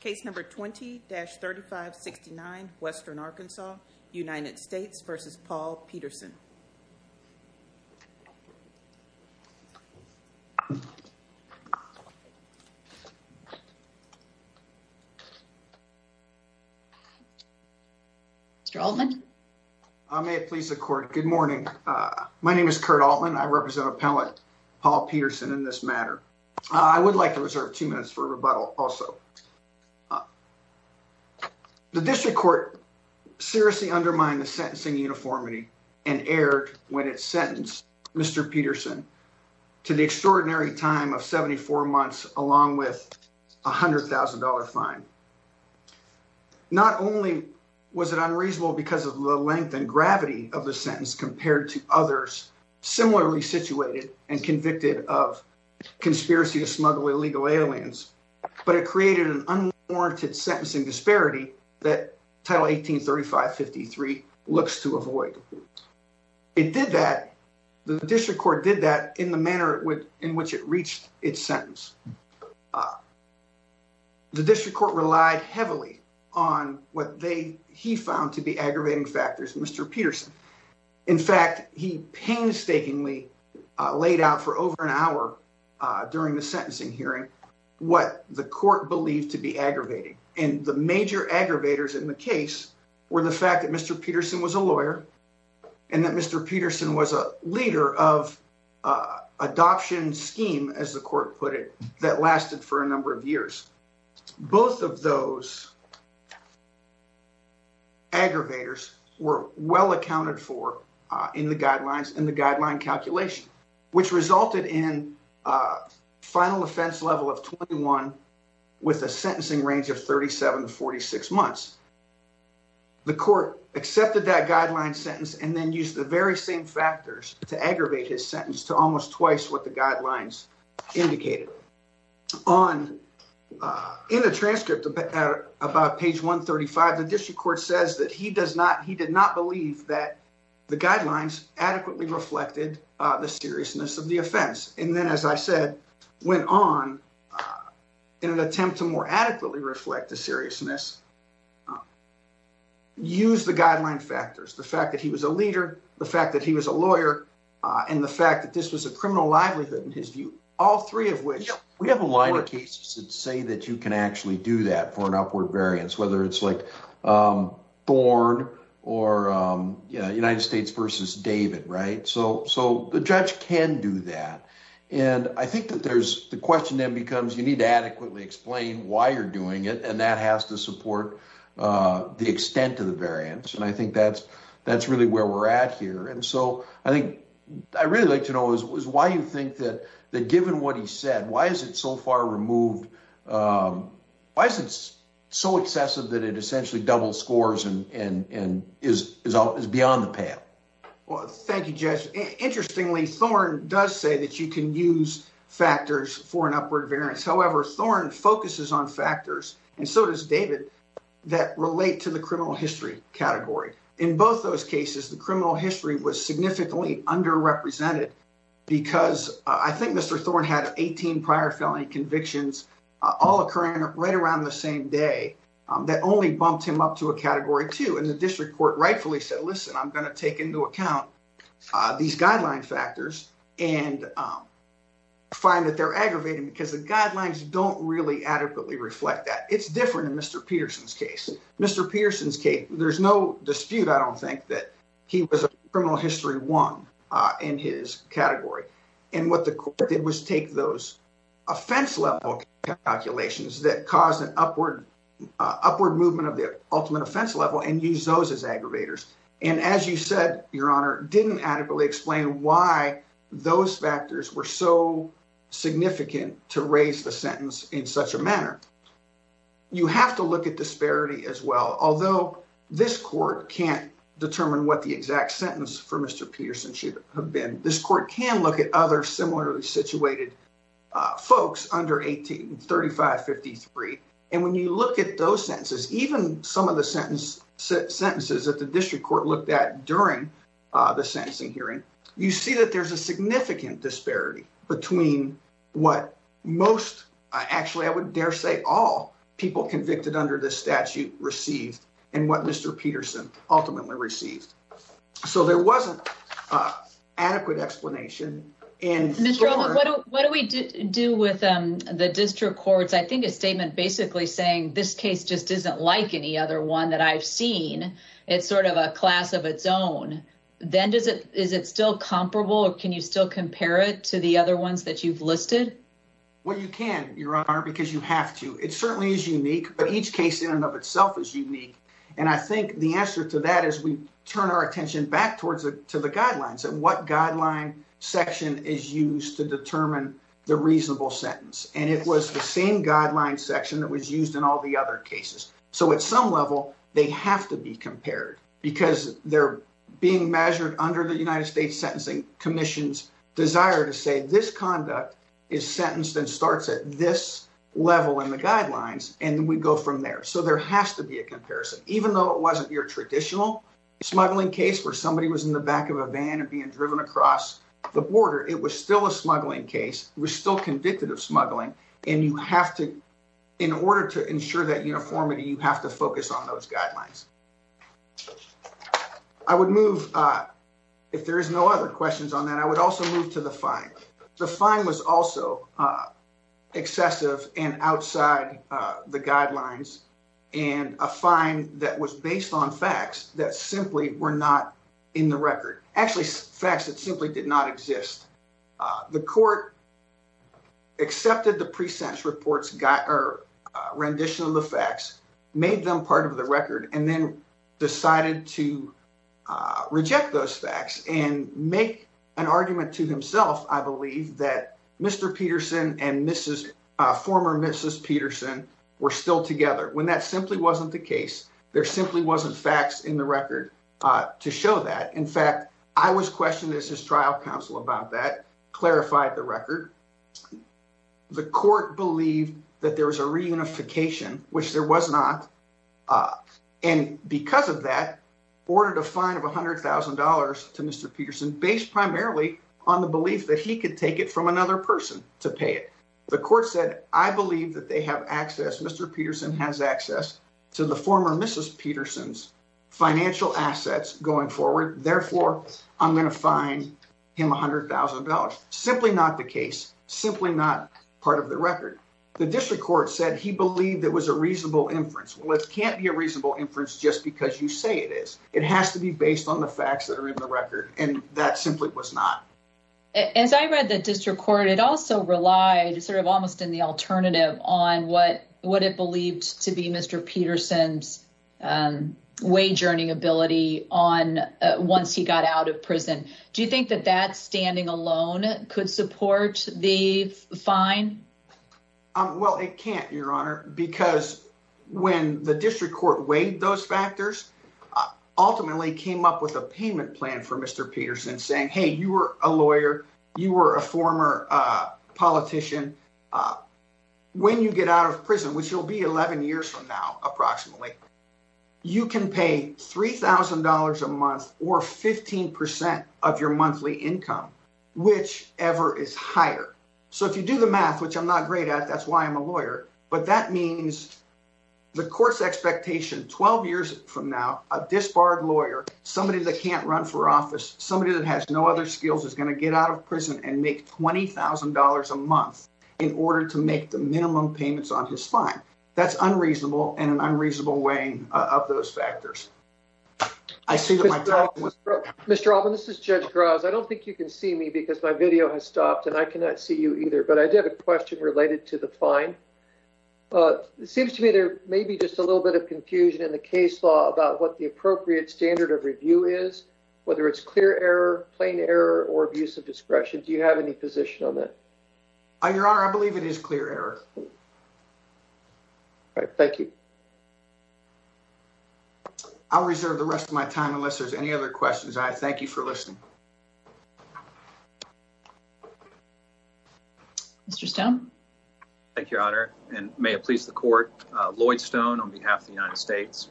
Case number 20-3569, Western Arkansas, United States v. Paul Petersen. Mr. Altman? May it please the Court, good morning. My name is Kurt Altman, I represent Appellate Paul Petersen in this matter. I would like to reserve two minutes for rebuttal also. The District Court seriously undermined the sentencing uniformity and erred when it sentenced Mr. Petersen to the extraordinary time of 74 months along with a $100,000 fine. Not only was it unreasonable because of the length and gravity of the sentence compared to others similarly situated and convicted of conspiracy to smuggle illegal aliens, but it created an unwarranted sentencing disparity that Title 18-3553 looks to avoid. It did that, the District Court did that in the manner in which it reached its sentence. The District Court relied heavily on what they, he found to be aggravating factors, Mr. Petersen. In fact, he painstakingly laid out for over an hour during the sentencing hearing what the Court believed to be aggravating. And the major aggravators in the case were the fact that Mr. Petersen was a lawyer and that Mr. Petersen was a leader of adoption scheme, as the Court put it, that lasted for a number of years. The Court accepted that guideline sentence and then used the very same factors to aggravate his sentence to almost twice what the guidelines indicated. In the transcript about page 135, the District Court says that he does not, he did not believe that the guidelines adequately reflected the seriousness of the offense. And then, as I said, went on in an attempt to more adequately reflect the seriousness, used the guideline factors, the fact that he was a leader, the fact that he was a lawyer, and the fact that this was a criminal livelihood in his view, all three of which. We have a line of cases that say that you can actually do that for an upward variance, whether it's like Thorn or United States versus David, right? So the judge can do that. And I think that there's the question then becomes you need to adequately explain why you're doing it and that has to support the extent of the variance. And I think that's really where we're at here. And so I think I really like to know is why you think that given what he said, why is it so far removed? Why is it so excessive that it essentially double scores and is beyond the pale? Well, thank you, Judge. Interestingly, Thorn does say that you can use factors for an upward variance. However, Thorn focuses on factors and so does David that relate to the criminal history category. In both those cases, the criminal history was significantly underrepresented because I think Mr. these guideline factors and find that they're aggravating because the guidelines don't really adequately reflect that it's different in Mr. Peterson's case. Mr. Peterson's case. There's no dispute. I don't think that he was a criminal history one in his category. And what the court did was take those offense level calculations that caused an upward upward movement of the ultimate offense level and use those as aggravators. And as you said, your honor, didn't adequately explain why those factors were so significant to raise the sentence in such a manner. You have to look at disparity as well, although this court can't determine what the exact sentence for Mr. Peterson should have been. This court can look at other similarly situated folks under 18, 35, 53. And when you look at those sentences, even some of the sentence sentences that the district court looked at during the sentencing hearing, you see that there's a significant disparity between what most actually I would dare say all people convicted under the statute received and what Mr. Peterson ultimately received. So there wasn't adequate explanation. What do we do with the district courts? I think a statement basically saying this case just isn't like any other one that I've seen. It's sort of a class of its own. Then does it is it still comparable or can you still compare it to the other ones that you've listed? Well, you can, your honor, because you have to. It certainly is unique, but each case in and of itself is unique. And I think the answer to that is we turn our attention back towards to the guidelines and what guideline section is used to determine the reasonable sentence. And it was the same guideline section that was used in all the other cases. So at some level, they have to be compared because they're being measured under the United States Sentencing Commission's desire to say this conduct is sentenced and starts at this level in the guidelines. And we go from there. So there has to be a comparison, even though it wasn't your traditional smuggling case where somebody was in the back of a van and being driven across the border. It was still a smuggling case. We're still convicted of smuggling. And you have to, in order to ensure that uniformity, you have to focus on those guidelines. I would move, if there is no other questions on that, I would also move to the fine. The fine was also excessive and outside the guidelines and a fine that was based on facts that simply were not in the record. Actually, facts that simply did not exist. The court accepted the pre-sentence report's rendition of the facts, made them part of the record, and then decided to reject those facts and make an argument to himself, I believe, that Mr. I was questioned as his trial counsel about that, clarified the record. The court believed that there was a reunification, which there was not. And because of that, ordered a fine of $100,000 to Mr. Peterson's financial assets going forward. Therefore, I'm going to fine him $100,000. Simply not the case. Simply not part of the record. The district court said he believed there was a reasonable inference. Well, it can't be a reasonable inference just because you say it is. It has to be based on the facts that are in the record. And that simply was not. As I read the district court, it also relied sort of almost in the alternative on what what it believed to be Mr. Peterson's wage earning ability on once he got out of prison. Do you think that that standing alone could support the fine? Well, it can't, Your Honor, because when the district court weighed those factors, ultimately came up with a payment plan for Mr. Peterson saying, hey, you were a lawyer, you were a former politician. When you get out of prison, which will be 11 years from now, approximately, you can pay $3,000 a month or 15% of your monthly income, whichever is higher. So if you do the math, which I'm not great at, that's why I'm a lawyer. But that means the course expectation 12 years from now, a disbarred lawyer, somebody that can't run for office, somebody that has no other skills is going to get out of prison and make $20,000 a month in order to make the minimum payments on his fine. That's unreasonable and an unreasonable weighing of those factors. I see that. Mr. Alvin, this is Judge Grouse. I don't think you can see me because my video has stopped and I cannot see you either. But I did a question related to the fine. It seems to me there may be just a little bit of confusion in the case law about what the appropriate standard of review is, whether it's clear error, plain error or abuse of discretion. Do you have any position on that? Your Honor, I believe it is clear error. Thank you. I'll reserve the rest of my time unless there's any other questions. I thank you for listening. Mr. Stone. Thank you, Your Honor, and may it please the court. Lloyd Stone on behalf of the United States.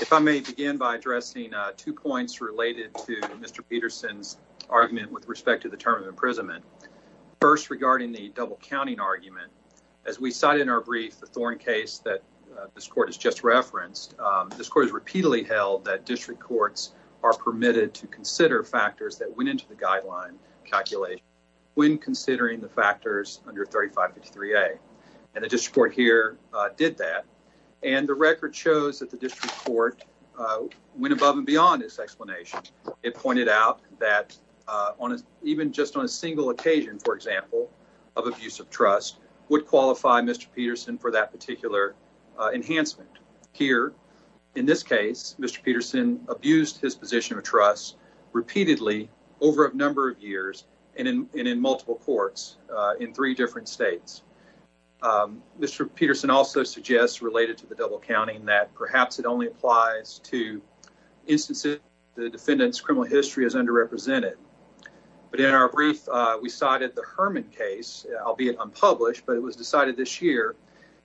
If I may begin by addressing two points related to Mr. Peterson's argument with respect to the term of imprisonment. First, regarding the double counting argument, as we cited in our brief, the thorn case that this court has just referenced, this court has repeatedly held that district courts are permitted to consider factors that went into the guideline calculation when considering the factors under 3553A. And the district court here did that. And the record shows that the district court went above and beyond this explanation. It pointed out that even just on a single occasion, for example, of abuse of trust would qualify Mr. Peterson for that particular enhancement. Here, in this case, Mr. Peterson abused his position of trust repeatedly over a number of years and in multiple courts in three different states. Mr. Peterson also suggests related to the double counting that perhaps it only applies to instances the defendant's criminal history is underrepresented. But in our brief, we cited the Herman case, albeit unpublished, but it was decided this year.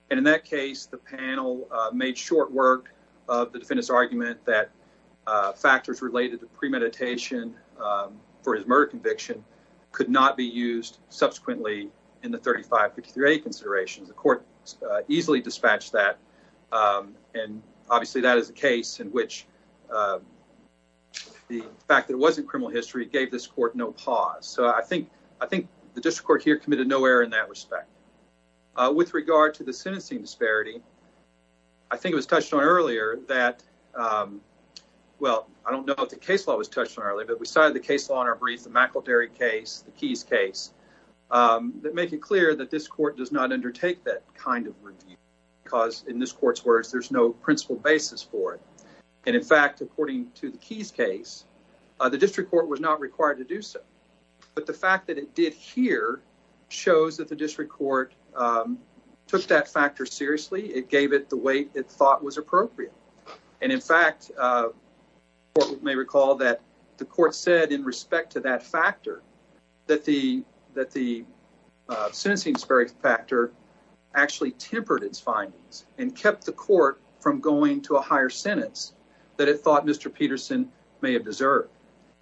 And in that case, the panel made short work of the defendant's argument that factors related to premeditation for his murder conviction could not be used subsequently in the 3553A considerations. The court easily dispatched that. And obviously, that is a case in which the fact that it wasn't criminal history gave this court no pause. So I think the district court here committed no error in that respect. With regard to the sentencing disparity, I think it was touched on earlier that, well, I don't know if the case law was touched on earlier, but we cited the case law in our brief, the McElderry case, the Keyes case, that make it clear that this court does not undertake that kind of review because in this court's words, there's no principal basis for it. And in fact, according to the Keyes case, the district court was not required to do so. But the fact that it did here shows that the district court took that factor seriously. It gave it the weight it thought was appropriate. And in fact, you may recall that the court said in respect to that factor that the sentencing factor actually tempered its findings and kept the court from going to a higher sentence that it thought Mr. Peterson may have deserved.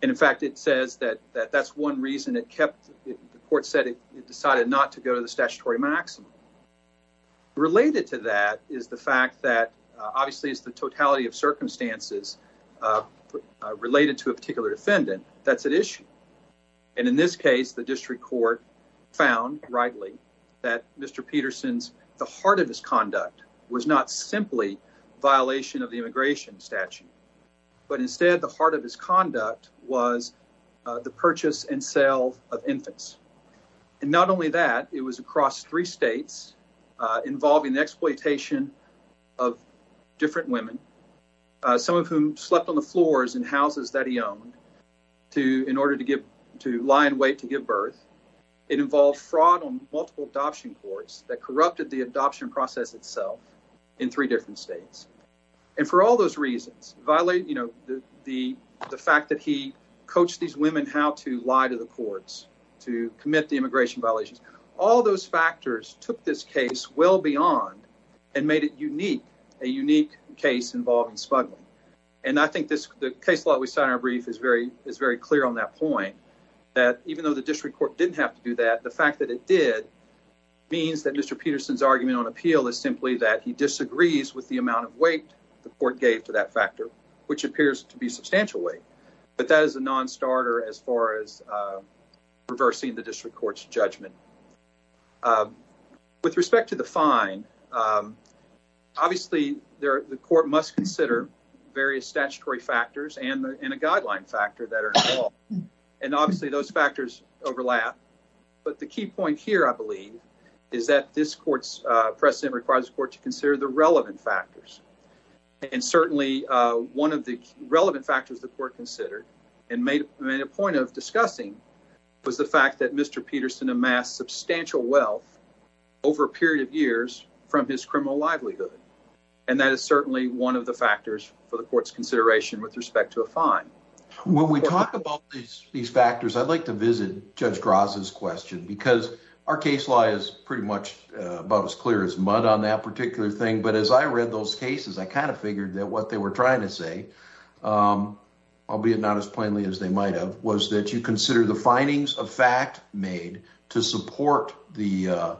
And in fact, it says that that's one reason it kept. The court said it decided not to go to the statutory maximum. Related to that is the fact that obviously it's the totality of circumstances related to a particular defendant that's at issue. And in this case, the district court found rightly that Mr. Peterson's, the heart of his conduct was not simply violation of the immigration statute, but instead the heart of his conduct was the purchase and sale of infants. And not only that, it was across three states involving the exploitation of different women, some of whom slept on the floors in houses that he owned in order to lie in wait to give birth. It involved fraud on multiple adoption courts that corrupted the adoption process itself in three different states. And for all those reasons, the fact that he coached these women how to lie to the courts to commit the immigration violations, all those factors took this case well beyond and made it unique, a unique case involving smuggling. And I think this case law we signed our brief is very is very clear on that point, that even though the district court didn't have to do that, the fact that it did means that Mr. Peterson's argument on appeal is simply that he disagrees with the amount of weight the court gave to that factor, which appears to be substantial weight. But that is a nonstarter as far as reversing the district court's judgment. With respect to the fine, obviously, the court must consider various statutory factors and a guideline factor that are involved, and obviously those factors overlap. But the key point here, I believe, is that this court's precedent requires the court to consider the relevant factors. And certainly one of the relevant factors the court considered and made a point of discussing was the fact that Mr. Peterson amassed substantial wealth over a period of years from his criminal livelihood. And that is certainly one of the factors for the court's consideration with respect to a fine. When we talk about these factors, I'd like to visit Judge Gross's question because our case law is pretty much about as clear as mud on that particular thing. But as I read those cases, I kind of figured that what they were trying to say, albeit not as plainly as they might have, was that you consider the findings of fact made to support the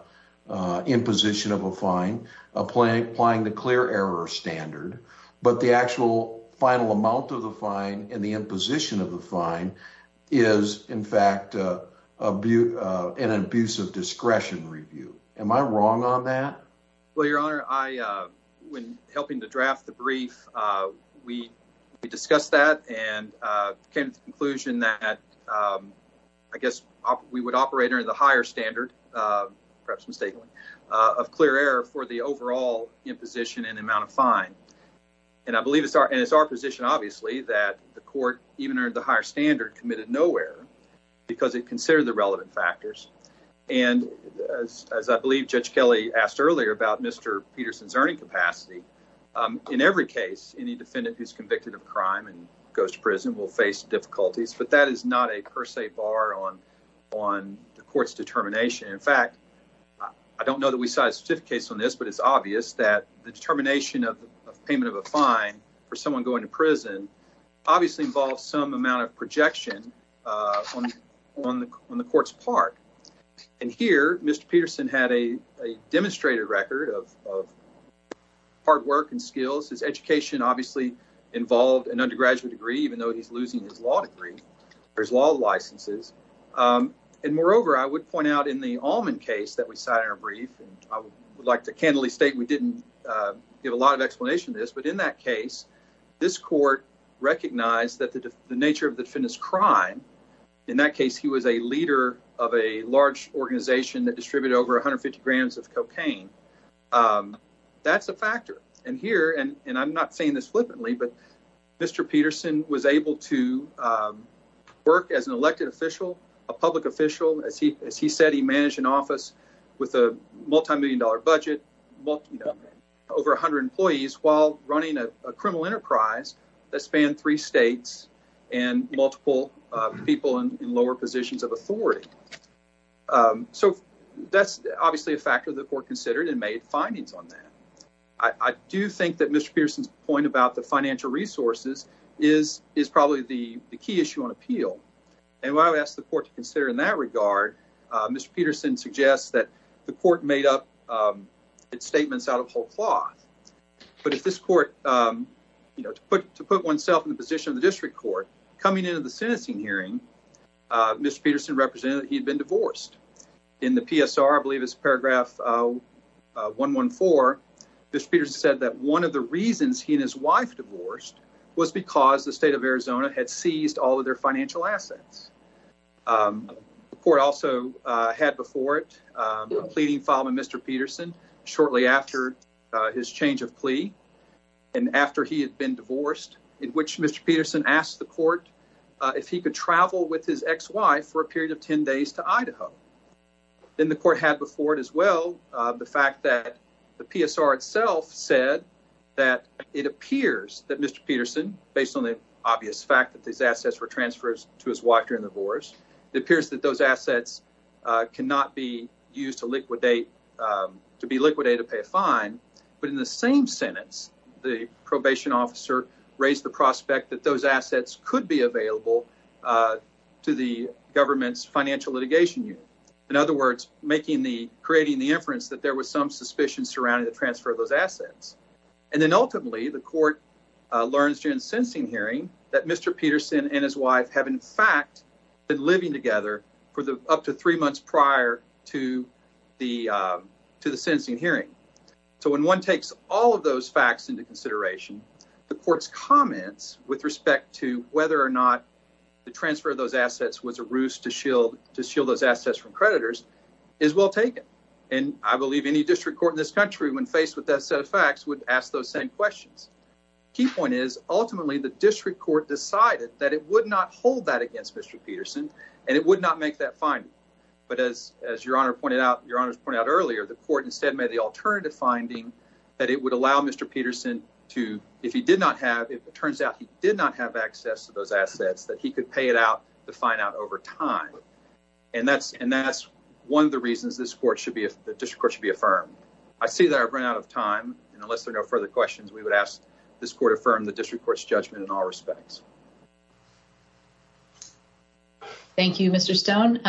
imposition of a fine applying the clear error standard. But the actual final amount of the fine and the imposition of the fine is, in fact, an abuse of discretion review. Am I wrong on that? Well, Your Honor, when helping to draft the brief, we discussed that and came to the conclusion that I guess we would operate under the higher standard, perhaps mistakenly, of clear error for the overall imposition and amount of fine. And I believe it's our position, obviously, that the court, even under the higher standard, committed no error because it considered the relevant factors. And as I believe Judge Kelly asked earlier about Mr. Peterson's earning capacity, in every case, any defendant who's convicted of crime and goes to prison will face difficulties. But that is not a per se bar on the court's determination. In fact, I don't know that we cite a certificate on this, but it's obvious that the determination of payment of a fine for someone going to prison obviously involves some amount of projection on the court's part. And here, Mr. Peterson had a demonstrated record of hard work and skills. His education obviously involved an undergraduate degree, even though he's losing his law degree or his law licenses. And moreover, I would point out in the Allman case that we cited in our brief, and I would like to candidly state we didn't give a lot of explanation to this. But in that case, this court recognized that the nature of the defendant's crime, in that case, he was a leader of a large organization that distributed over 150 grams of cocaine. That's a factor. And here, and I'm not saying this flippantly, but Mr. Peterson was able to work as an elected official, a public official. As he said, he managed an office with a multimillion dollar budget, over 100 employees, while running a criminal enterprise that spanned three states and multiple people in lower positions of authority. So that's obviously a factor the court considered and made findings on that. I do think that Mr. Peterson's point about the financial resources is probably the key issue on appeal. And what I would ask the court to consider in that regard, Mr. Peterson suggests that the court made up its statements out of whole cloth. But if this court, you know, to put oneself in the position of the district court, coming into the sentencing hearing, Mr. Peterson represented that he had been divorced. In the PSR, I believe it's paragraph 114, Mr. Peterson said that one of the reasons he and his wife divorced was because the state of Arizona had seized all of their financial assets. The court also had before it a pleading file with Mr. Peterson shortly after his change of plea and after he had been divorced, in which Mr. Peterson asked the court if he could travel with his ex-wife for a period of 10 days to Idaho. Then the court had before it as well the fact that the PSR itself said that it appears that Mr. Peterson, based on the obvious fact that these assets were transfers to his wife during the divorce, it appears that those assets cannot be used to liquidate to be liquidated to pay a fine. But in the same sentence, the probation officer raised the prospect that those assets could be available to the government's financial litigation unit. In other words, creating the inference that there was some suspicion surrounding the transfer of those assets. And then ultimately, the court learns during the sentencing hearing that Mr. Peterson and his wife have in fact been living together for up to three months prior to the sentencing hearing. When one takes all of those facts into consideration, the court's comments with respect to whether or not the transfer of those assets was a ruse to shield those assets from creditors is well taken. And I believe any district court in this country when faced with that set of facts would ask those same questions. Key point is, ultimately, the district court decided that it would not hold that against Mr. Peterson and it would not make that finding. But as your honor pointed out earlier, the court instead made the alternative finding that it would allow Mr. Peterson to, if it turns out he did not have access to those assets, that he could pay it out to find out over time. And that's one of the reasons the district court should be affirmed. I see that I've run out of time, and unless there are no further questions, we would ask this court affirm the district court's judgment in all respects. Thank you, Mr. Stone.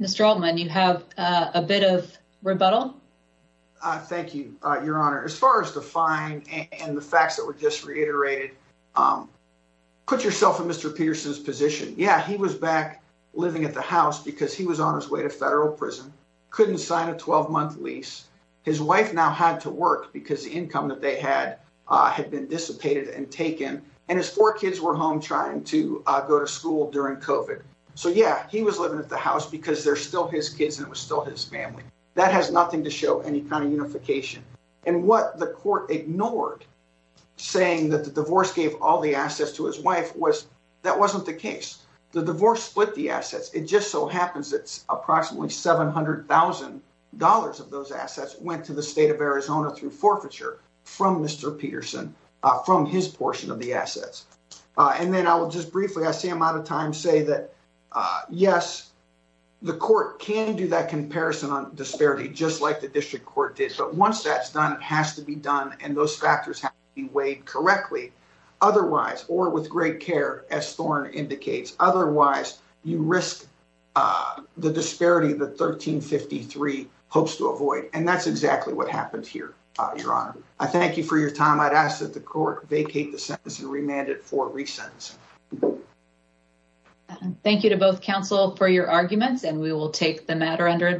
Mr. Altman, you have a bit of rebuttal? Thank you, your honor. As far as the fine and the facts that were just reiterated, put yourself in Mr. Peterson's position. Yeah, he was back living at the house because he was on his way to federal prison, couldn't sign a 12-month lease. His wife now had to work because the income that they had had been dissipated and taken, and his four kids were home trying to go to school during COVID. So, yeah, he was living at the house because they're still his kids and it was still his family. That has nothing to show any kind of unification. And what the court ignored, saying that the divorce gave all the assets to his wife, was that wasn't the case. The divorce split the assets. It just so happens that approximately $700,000 of those assets went to the state of Arizona through forfeiture from Mr. Peterson, from his portion of the assets. And then I will just briefly, I see I'm out of time, say that, yes, the court can do that comparison on disparity, just like the district court did. But once that's done, it has to be done, and those factors have to be weighed correctly. Otherwise, or with great care, as Thorne indicates, otherwise you risk the disparity that 1353 hopes to avoid. And that's exactly what happened here, your honor. I thank you for your time. I'd ask that the court vacate the sentence and remand it for resentencing. Thank you to both counsel for your arguments, and we will take the matter under advice.